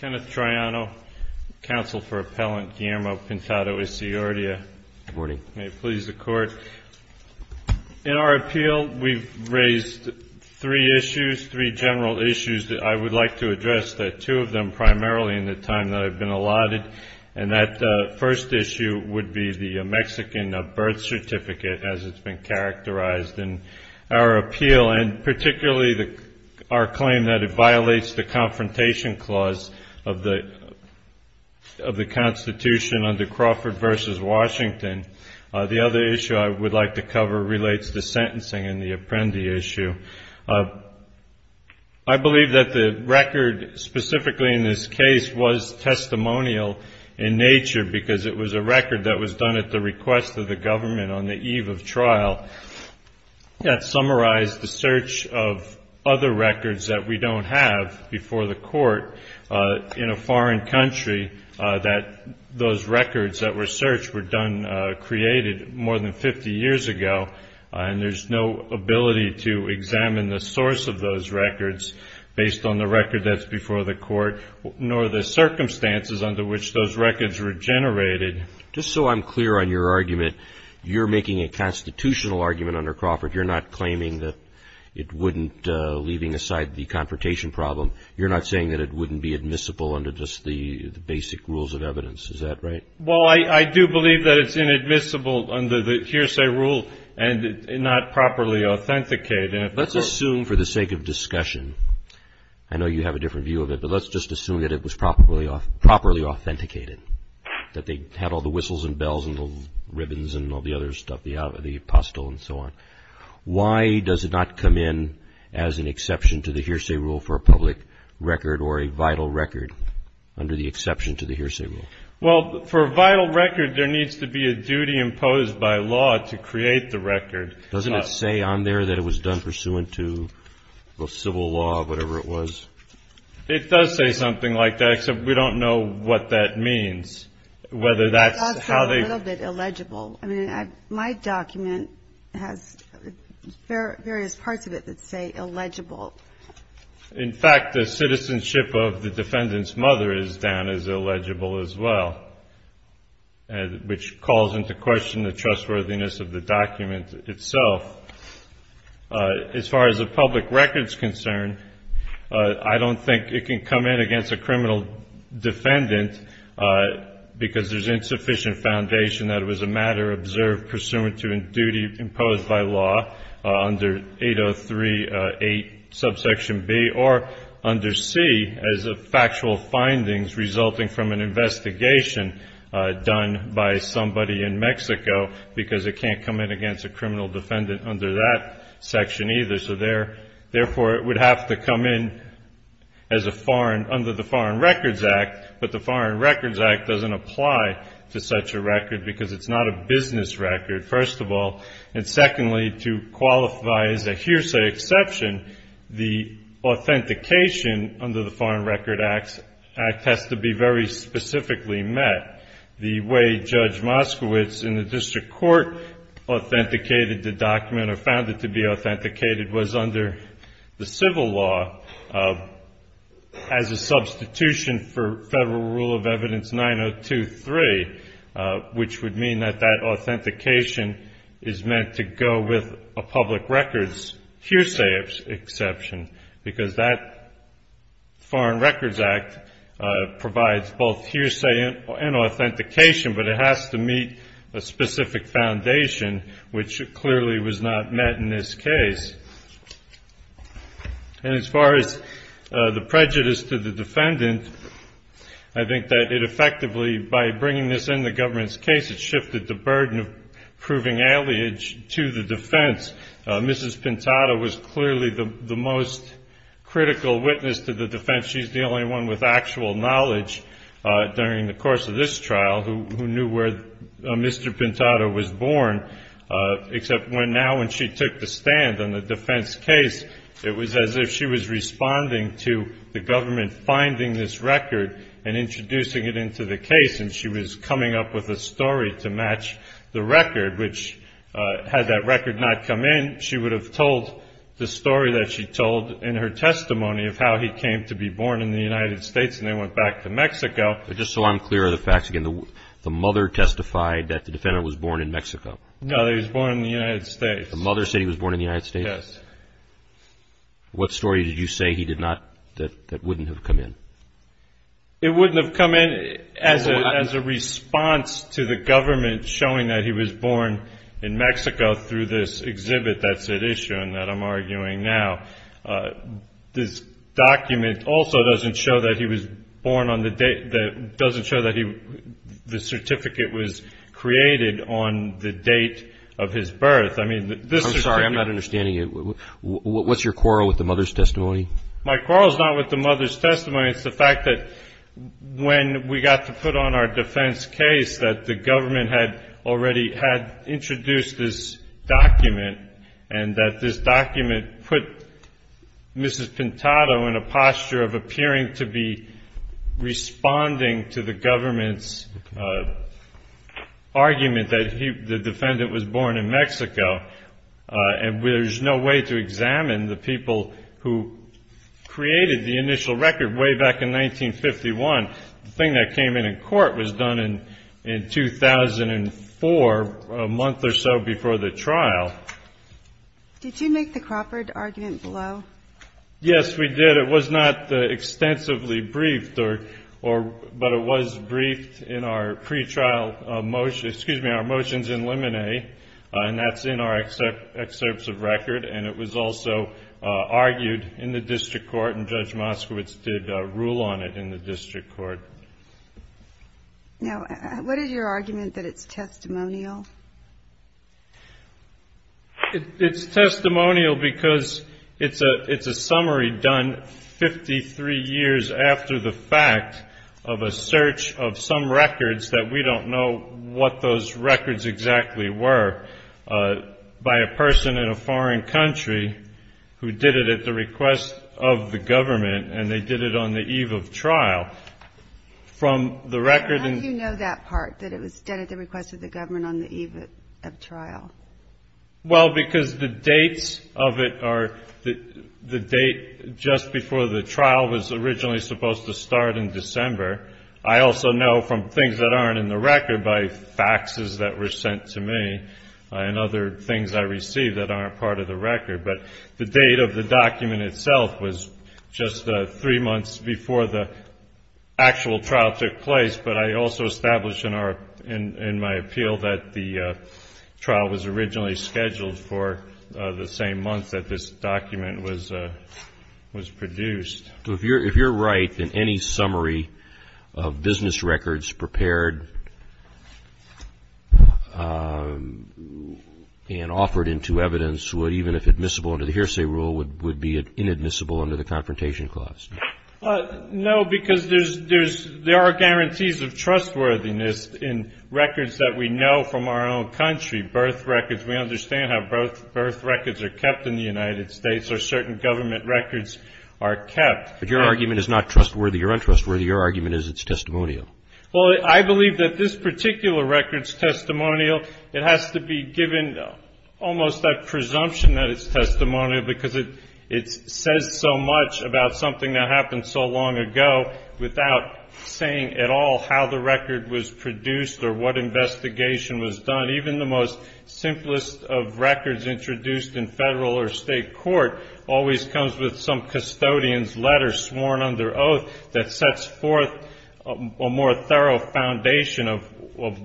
Kenneth Triano, Counsel for Appellant Guillermo Pintado-Isiordia. Good morning. May it please the Court. In our appeal, we've raised three issues, three general issues that I would like to address, two of them primarily in the time that I've been allotted, and that first issue would be the Mexican birth certificate as it's been characterized in our appeal, and particularly our claim that it violates the confrontation clause of the Constitution under Crawford v. Washington. The other issue I would like to cover relates to sentencing and the Apprendi issue. I believe that the record specifically in this case was testimonial in nature because it was a record that was done at the request of the government on the eve of trial. That summarized the search of other records that we don't have before the court in a foreign country that those records that were searched were done, created more than 50 years ago, and there's no ability to examine the source of those records based on the record that's before the court, nor the circumstances under which those records were generated. Just so I'm clear on your argument, you're making a constitutional argument under Crawford. You're not claiming that it wouldn't, leaving aside the confrontation problem, you're not saying that it wouldn't be admissible under just the basic rules of evidence. Is that right? Well, I do believe that it's inadmissible under the hearsay rule and not properly authenticated. Let's assume for the sake of discussion, I know you have a different view of it, but let's just assume that it was properly authenticated, that they had all the whistles and bells and the ribbons and all the other stuff, the apostille and so on. Why does it not come in as an exception to the hearsay rule for a public record or a vital record under the exception to the hearsay rule? Well, for a vital record, there needs to be a duty imposed by law to create the record. Doesn't it say on there that it was done pursuant to civil law or whatever it was? It does say something like that, except we don't know what that means, whether that's how they ---- It does say a little bit illegible. I mean, my document has various parts of it that say illegible. In fact, the citizenship of the defendant's mother is down as illegible as well, which calls into question the trustworthiness of the document itself. As far as the public record is concerned, I don't think it can come in against a criminal defendant because there's insufficient foundation that it was a matter observed pursuant to a duty imposed by law under 803.8 subsection B or under C as a factual findings resulting from an investigation done by somebody in Mexico because it can't come in against a criminal defendant under that section either. So therefore, it would have to come in as a foreign under the Foreign Records Act, but the Foreign Records Act doesn't apply to such a record because it's not a business record, first of all. And secondly, to qualify as a hearsay exception, the authentication under the Foreign Records Act has to be very specifically met. The way Judge Moskowitz in the district court authenticated the document or found it to be authenticated was under the civil law as a substitution for Federal Rule of Evidence 9023, which would mean that that authentication is meant to go with a public record's hearsay exception. Because that Foreign Records Act provides both hearsay and authentication, but it has to meet a specific foundation, which clearly was not met in this case. And as far as the prejudice to the defendant, I think that it effectively, by bringing this in the government's case, it shifted the burden of proving allegiance to the defense. Mrs. Pintada was clearly the most critical witness to the defense. She's the only one with actual knowledge during the course of this trial who knew where Mr. Pintada was born, except now when she took the stand on the defense case, it was as if she was responding to the government finding this record and introducing it into the case, and she was coming up with a story to match the record, which had that record not come in, she would have told the story that she told in her testimony of how he came to be born in the United States and then went back to Mexico. But just so I'm clear of the facts, again, the mother testified that the defendant was born in Mexico. No, he was born in the United States. The mother said he was born in the United States? Yes. What story did you say he did not, that wouldn't have come in? It wouldn't have come in as a response to the government showing that he was born in Mexico through this exhibit that's at issue and that I'm arguing now. This document also doesn't show that he was born on the date, doesn't show that the certificate was created on the date of his birth. I'm sorry, I'm not understanding you. What's your quarrel with the mother's testimony? My quarrel is not with the mother's testimony. It's the fact that when we got to put on our defense case that the government had already had introduced this document and that this document put Mrs. Pintado in a posture of appearing to be responding to the government's argument that the defendant was born in Mexico. And there's no way to examine the people who created the initial record way back in 1951. The thing that came in in court was done in 2004, a month or so before the trial. Did you make the Crawford argument below? Yes, we did. But it was not extensively briefed, but it was briefed in our pre-trial motion. Excuse me, our motions in limine, and that's in our excerpts of record. And it was also argued in the district court, and Judge Moskowitz did rule on it in the district court. Now, what is your argument that it's testimonial? It's testimonial because it's a summary done 53 years after the fact of a search of some records that we don't know what those records exactly were by a person in a foreign country who did it at the request of the government, and they did it on the eve of trial. From the record in the- Well, because the dates of it are the date just before the trial was originally supposed to start in December. I also know from things that aren't in the record by faxes that were sent to me and other things I received that aren't part of the record. But the date of the document itself was just three months before the actual trial took place. But I also establish in my appeal that the trial was originally scheduled for the same month that this document was produced. So if you're right in any summary of business records prepared and offered into evidence, what even if admissible under the hearsay rule would be inadmissible under the Confrontation Clause? No, because there are guarantees of trustworthiness in records that we know from our own country, birth records. We understand how birth records are kept in the United States or certain government records are kept. But your argument is not trustworthy or untrustworthy. Your argument is it's testimonial. Well, I believe that this particular record is testimonial. It has to be given almost that presumption that it's testimonial because it says so much about something that happened so long ago without saying at all how the record was produced or what investigation was done. Even the most simplest of records introduced in federal or state court always comes with some custodian's letter sworn under oath that sets forth a more thorough foundation of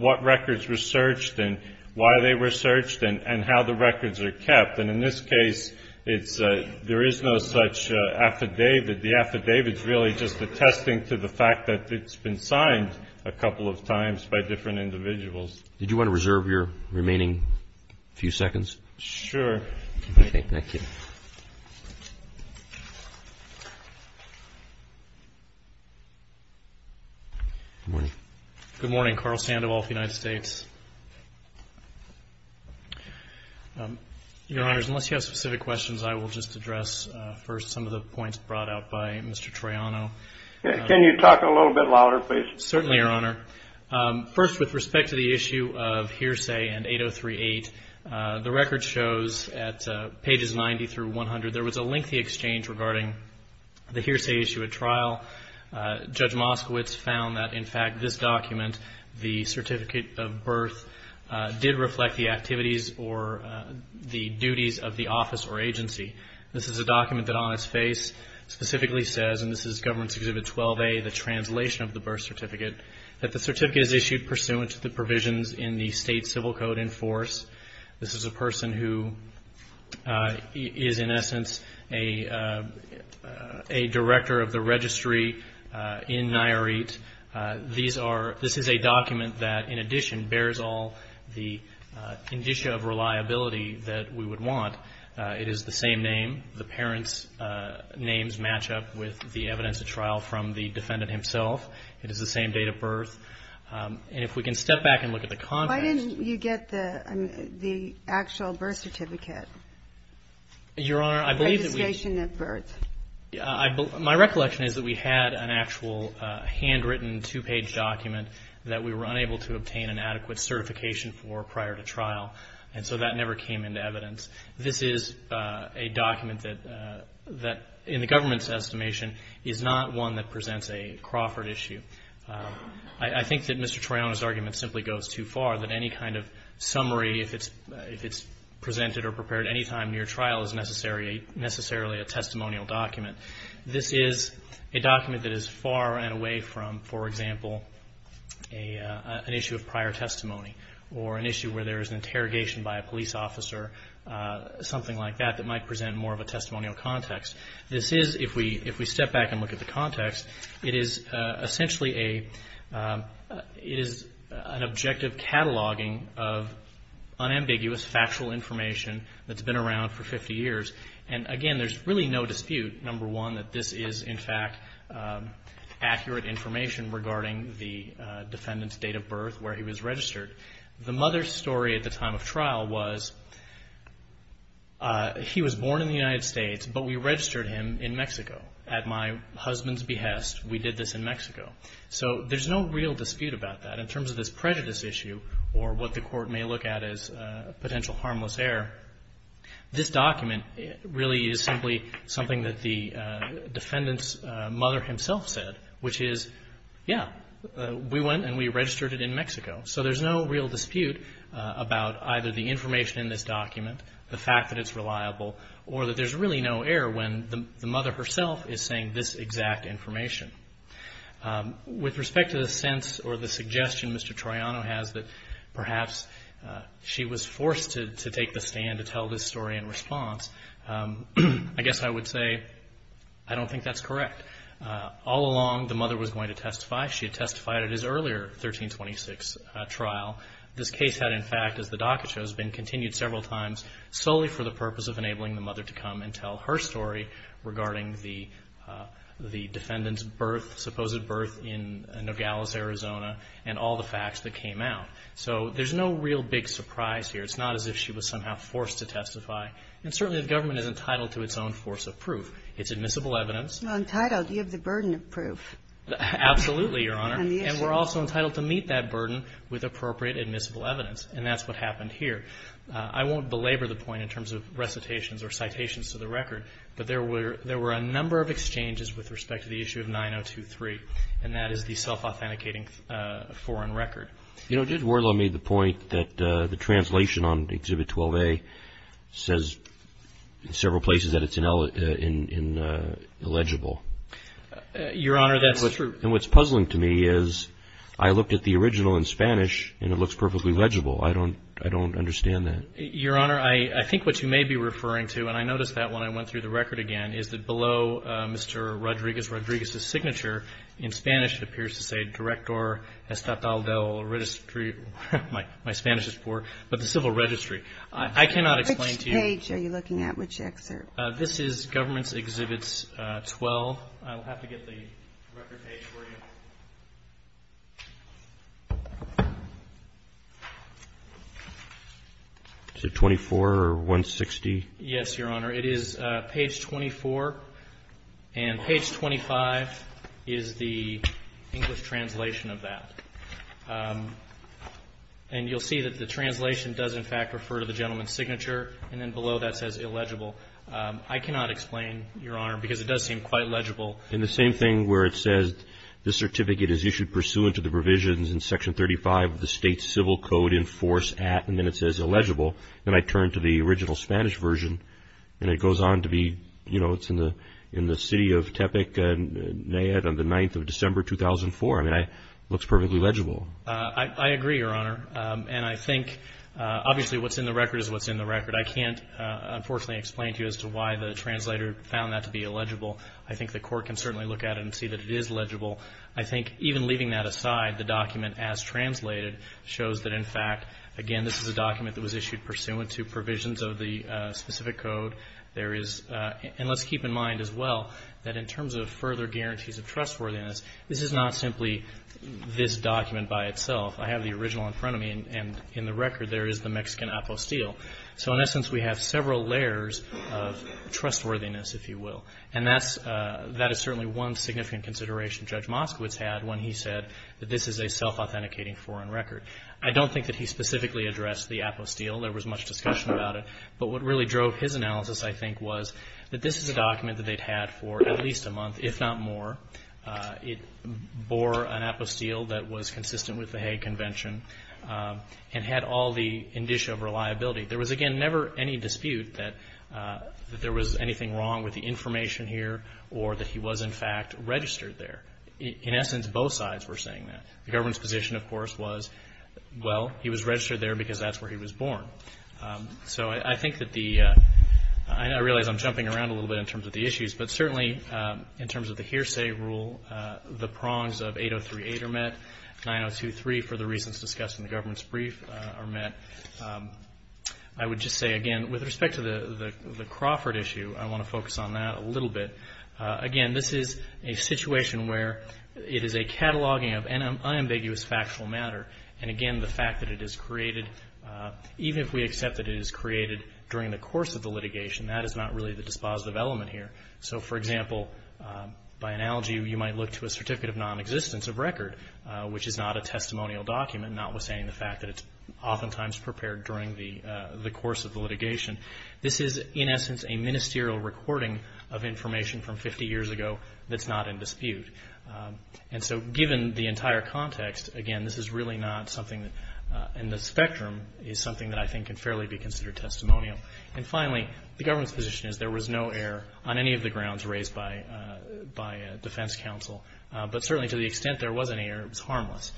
what records were searched and why they were searched and how the records are kept. And in this case, there is no such affidavit. The affidavit is really just attesting to the fact that it's been signed a couple of times by different individuals. Did you want to reserve your remaining few seconds? Sure. Okay, thank you. Thank you. Good morning. Good morning. Carl Sandoval of the United States. Your Honors, unless you have specific questions, I will just address first some of the points brought out by Mr. Troiano. Can you talk a little bit louder, please? Certainly, Your Honor. First, with respect to the issue of hearsay and 8038, the record shows at pages 90 through 100, there was a lengthy exchange regarding the hearsay issue at trial. Judge Moskowitz found that, in fact, this document, the certificate of birth, did reflect the activities or the duties of the office or agency. This is a document that on its face specifically says, and this is Governance Exhibit 12A, the translation of the birth certificate, that the certificate is issued pursuant to the provisions in the state civil code in force. This is a person who is, in essence, a director of the registry in Nayarit. This is a document that, in addition, bears all the indicia of reliability that we would want. It is the same name. The parents' names match up with the evidence at trial from the defendant himself. It is the same date of birth. And if we can step back and look at the context. Why didn't you get the actual birth certificate? Your Honor, I believe that we – Registration at birth. My recollection is that we had an actual handwritten, two-page document that we were unable to obtain an adequate certification for prior to trial, and so that never came into evidence. This is a document that, in the government's estimation, is not one that presents a Crawford issue. I think that Mr. Triana's argument simply goes too far, that any kind of summary, if it's presented or prepared any time near trial, is necessarily a testimonial document. This is a document that is far and away from, for example, an issue of prior testimony or an issue where there is an interrogation by a police officer, something like that that might present more of a testimonial context. This is, if we step back and look at the context, it is essentially an objective cataloging of unambiguous, factual information that's been around for 50 years. And, again, there's really no dispute, number one, that this is, in fact, accurate information regarding the defendant's date of birth, where he was registered. The mother's story at the time of trial was, he was born in the United States, but we registered him in Mexico. At my husband's behest, we did this in Mexico. So there's no real dispute about that. In terms of this prejudice issue, or what the court may look at as potential harmless error, this document really is simply something that the defendant's mother himself said, which is, yeah, we went and we registered it in Mexico. So there's no real dispute about either the information in this document, the fact that it's reliable, or that there's really no error when the mother herself is saying this exact information. With respect to the sense or the suggestion Mr. Troiano has that perhaps she was forced to take the stand to tell this story in response, I guess I would say I don't think that's correct. All along the mother was going to testify. She had testified at his earlier 1326 trial. This case had, in fact, as the docket shows, been continued several times solely for the purpose of enabling the mother to come and tell her story regarding the defendant's birth, supposed birth in Nogales, Arizona, and all the facts that came out. So there's no real big surprise here. It's not as if she was somehow forced to testify. And certainly the government is entitled to its own force of proof. It's admissible evidence. You're entitled. You have the burden of proof. Absolutely, Your Honor. And the issue. And we're also entitled to meet that burden with appropriate admissible evidence. And that's what happened here. I won't belabor the point in terms of recitations or citations to the record, but there were a number of exchanges with respect to the issue of 9023, and that is the self-authenticating foreign record. You know, Judge Wardlaw made the point that the translation on Exhibit 12A says in several places that it's illegible. Your Honor, that's true. And what's puzzling to me is I looked at the original in Spanish, and it looks perfectly legible. I don't understand that. Your Honor, I think what you may be referring to, and I noticed that when I went through the record again, is that below Mr. Rodriguez's signature, in Spanish, it appears to say Director Estatal del Registro. My Spanish is poor. But the civil registry. I cannot explain to you. Which page are you looking at? Which excerpt? This is Government's Exhibits 12. I'll have to get the record page for you. Is it 24 or 160? Yes, Your Honor. It is page 24. And page 25 is the English translation of that. And you'll see that the translation does, in fact, refer to the gentleman's signature. And then below that says illegible. I cannot explain, Your Honor, because it does seem quite legible. And the same thing where it says, this certificate is issued pursuant to the provisions in Section 35 of the State Civil Code in force at, and then it says illegible. Then I turn to the original Spanish version, and it goes on to be, you know, it's in the city of Tepec, Nayib, on the 9th of December, 2004. I mean, it looks perfectly legible. I agree, Your Honor. And I think, obviously, what's in the record is what's in the record. I can't, unfortunately, explain to you as to why the translator found that to be illegible. I think the court can certainly look at it and see that it is legible. I think, even leaving that aside, the document as translated shows that, in fact, again, this is a document that was issued pursuant to provisions of the specific code. There is, and let's keep in mind as well, that in terms of further guarantees of trustworthiness, this is not simply this document by itself. I have the original in front of me, and in the record there is the Mexican apostille. So, in essence, we have several layers of trustworthiness, if you will. And that's, that is certainly one significant consideration Judge Moskowitz had when he said that this is a self-authenticating foreign record. I don't think that he specifically addressed the apostille. There was much discussion about it. But what really drove his analysis, I think, was that this is a document that they'd had for at least a month, if not more. It bore an apostille that was consistent with the Hague Convention and had all the indicia of reliability. There was, again, never any dispute that there was anything wrong with the information here or that he was, in fact, registered there. In essence, both sides were saying that. The government's position, of course, was, well, he was registered there because that's where he was born. So I think that the, I realize I'm jumping around a little bit in terms of the issues, but certainly in terms of the hearsay rule, the prongs of 8038 are met, 9023, for the reasons discussed in the government's brief, are met. I would just say, again, with respect to the Crawford issue, I want to focus on that a little bit. Again, this is a situation where it is a cataloging of unambiguous factual matter. And, again, the fact that it is created, even if we accept that it is created during the course of the litigation, that is not really the dispositive element here. So, for example, by analogy, you might look to a certificate of nonexistence of record, which is not a testimonial document, notwithstanding the fact that it's oftentimes prepared during the course of the litigation. This is, in essence, a ministerial recording of information from 50 years ago that's not in dispute. And so, given the entire context, again, this is really not something that, and the spectrum is something that I think can fairly be considered testimonial. And, finally, the government's position is there was no error on any of the grounds raised by defense counsel, but certainly to the extent there was any error, it was harmless.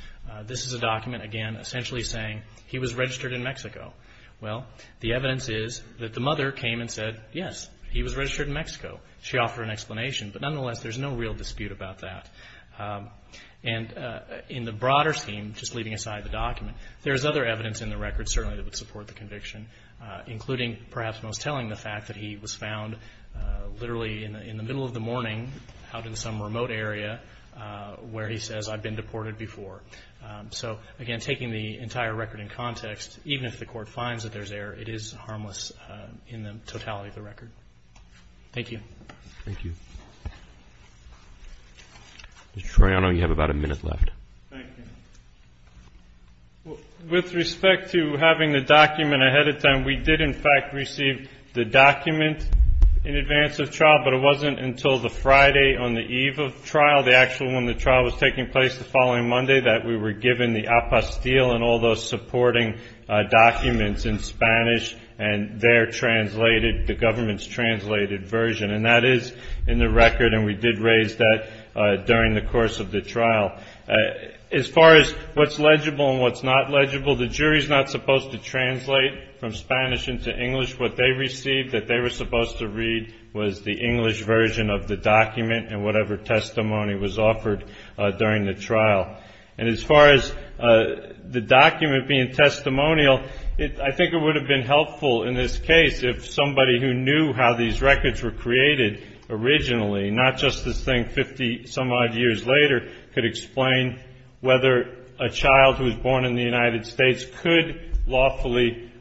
This is a document, again, essentially saying he was registered in Mexico. Well, the evidence is that the mother came and said, yes, he was registered in Mexico. She offered an explanation. But, nonetheless, there's no real dispute about that. And in the broader scheme, just leaving aside the document, there's other evidence in the record certainly that would support the conviction, including perhaps most telling the fact that he was found literally in the middle of the morning, out in some remote area, where he says, I've been deported before. So, again, taking the entire record in context, even if the court finds that there's error, it is harmless in the totality of the record. Thank you. Thank you. Mr. Toriano, you have about a minute left. Thank you. With respect to having the document ahead of time, we did, in fact, receive the document in advance of trial, but it wasn't until the Friday on the eve of trial, the actual one the trial was taking place the following Monday, that we were given the apostille and all those supporting documents in Spanish and their translated, the government's translated version. And that is in the record, and we did raise that during the course of the trial. As far as what's legible and what's not legible, the jury's not supposed to translate from Spanish into English. What they received that they were supposed to read was the English version of the document and whatever testimony was offered during the trial. And as far as the document being testimonial, I think it would have been helpful in this case if somebody who knew how these records were created originally, not just this thing 50 some odd years later, could explain whether a child who was born in the United States could lawfully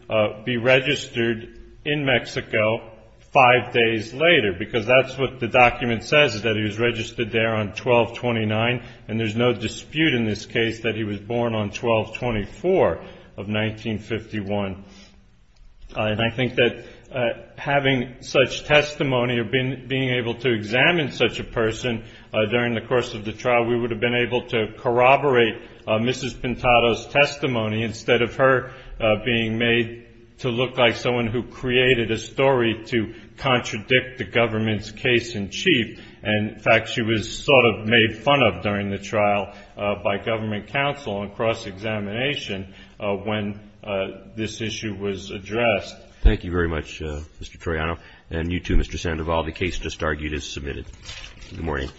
be registered in Mexico five days later, because that's what the document says, that he was registered there on 12-29, and there's no dispute in this case that he was born on 12-24 of 1951. And I think that having such testimony or being able to examine such a person during the course of the trial, we would have been able to corroborate Mrs. Pintado's testimony, instead of her being made to look like someone who created a story to contradict the government's case in chief. And, in fact, she was sort of made fun of during the trial by government counsel on cross-examination when this issue was addressed. Thank you very much, Mr. Toriano, and you too, Mr. Sandoval. Good morning.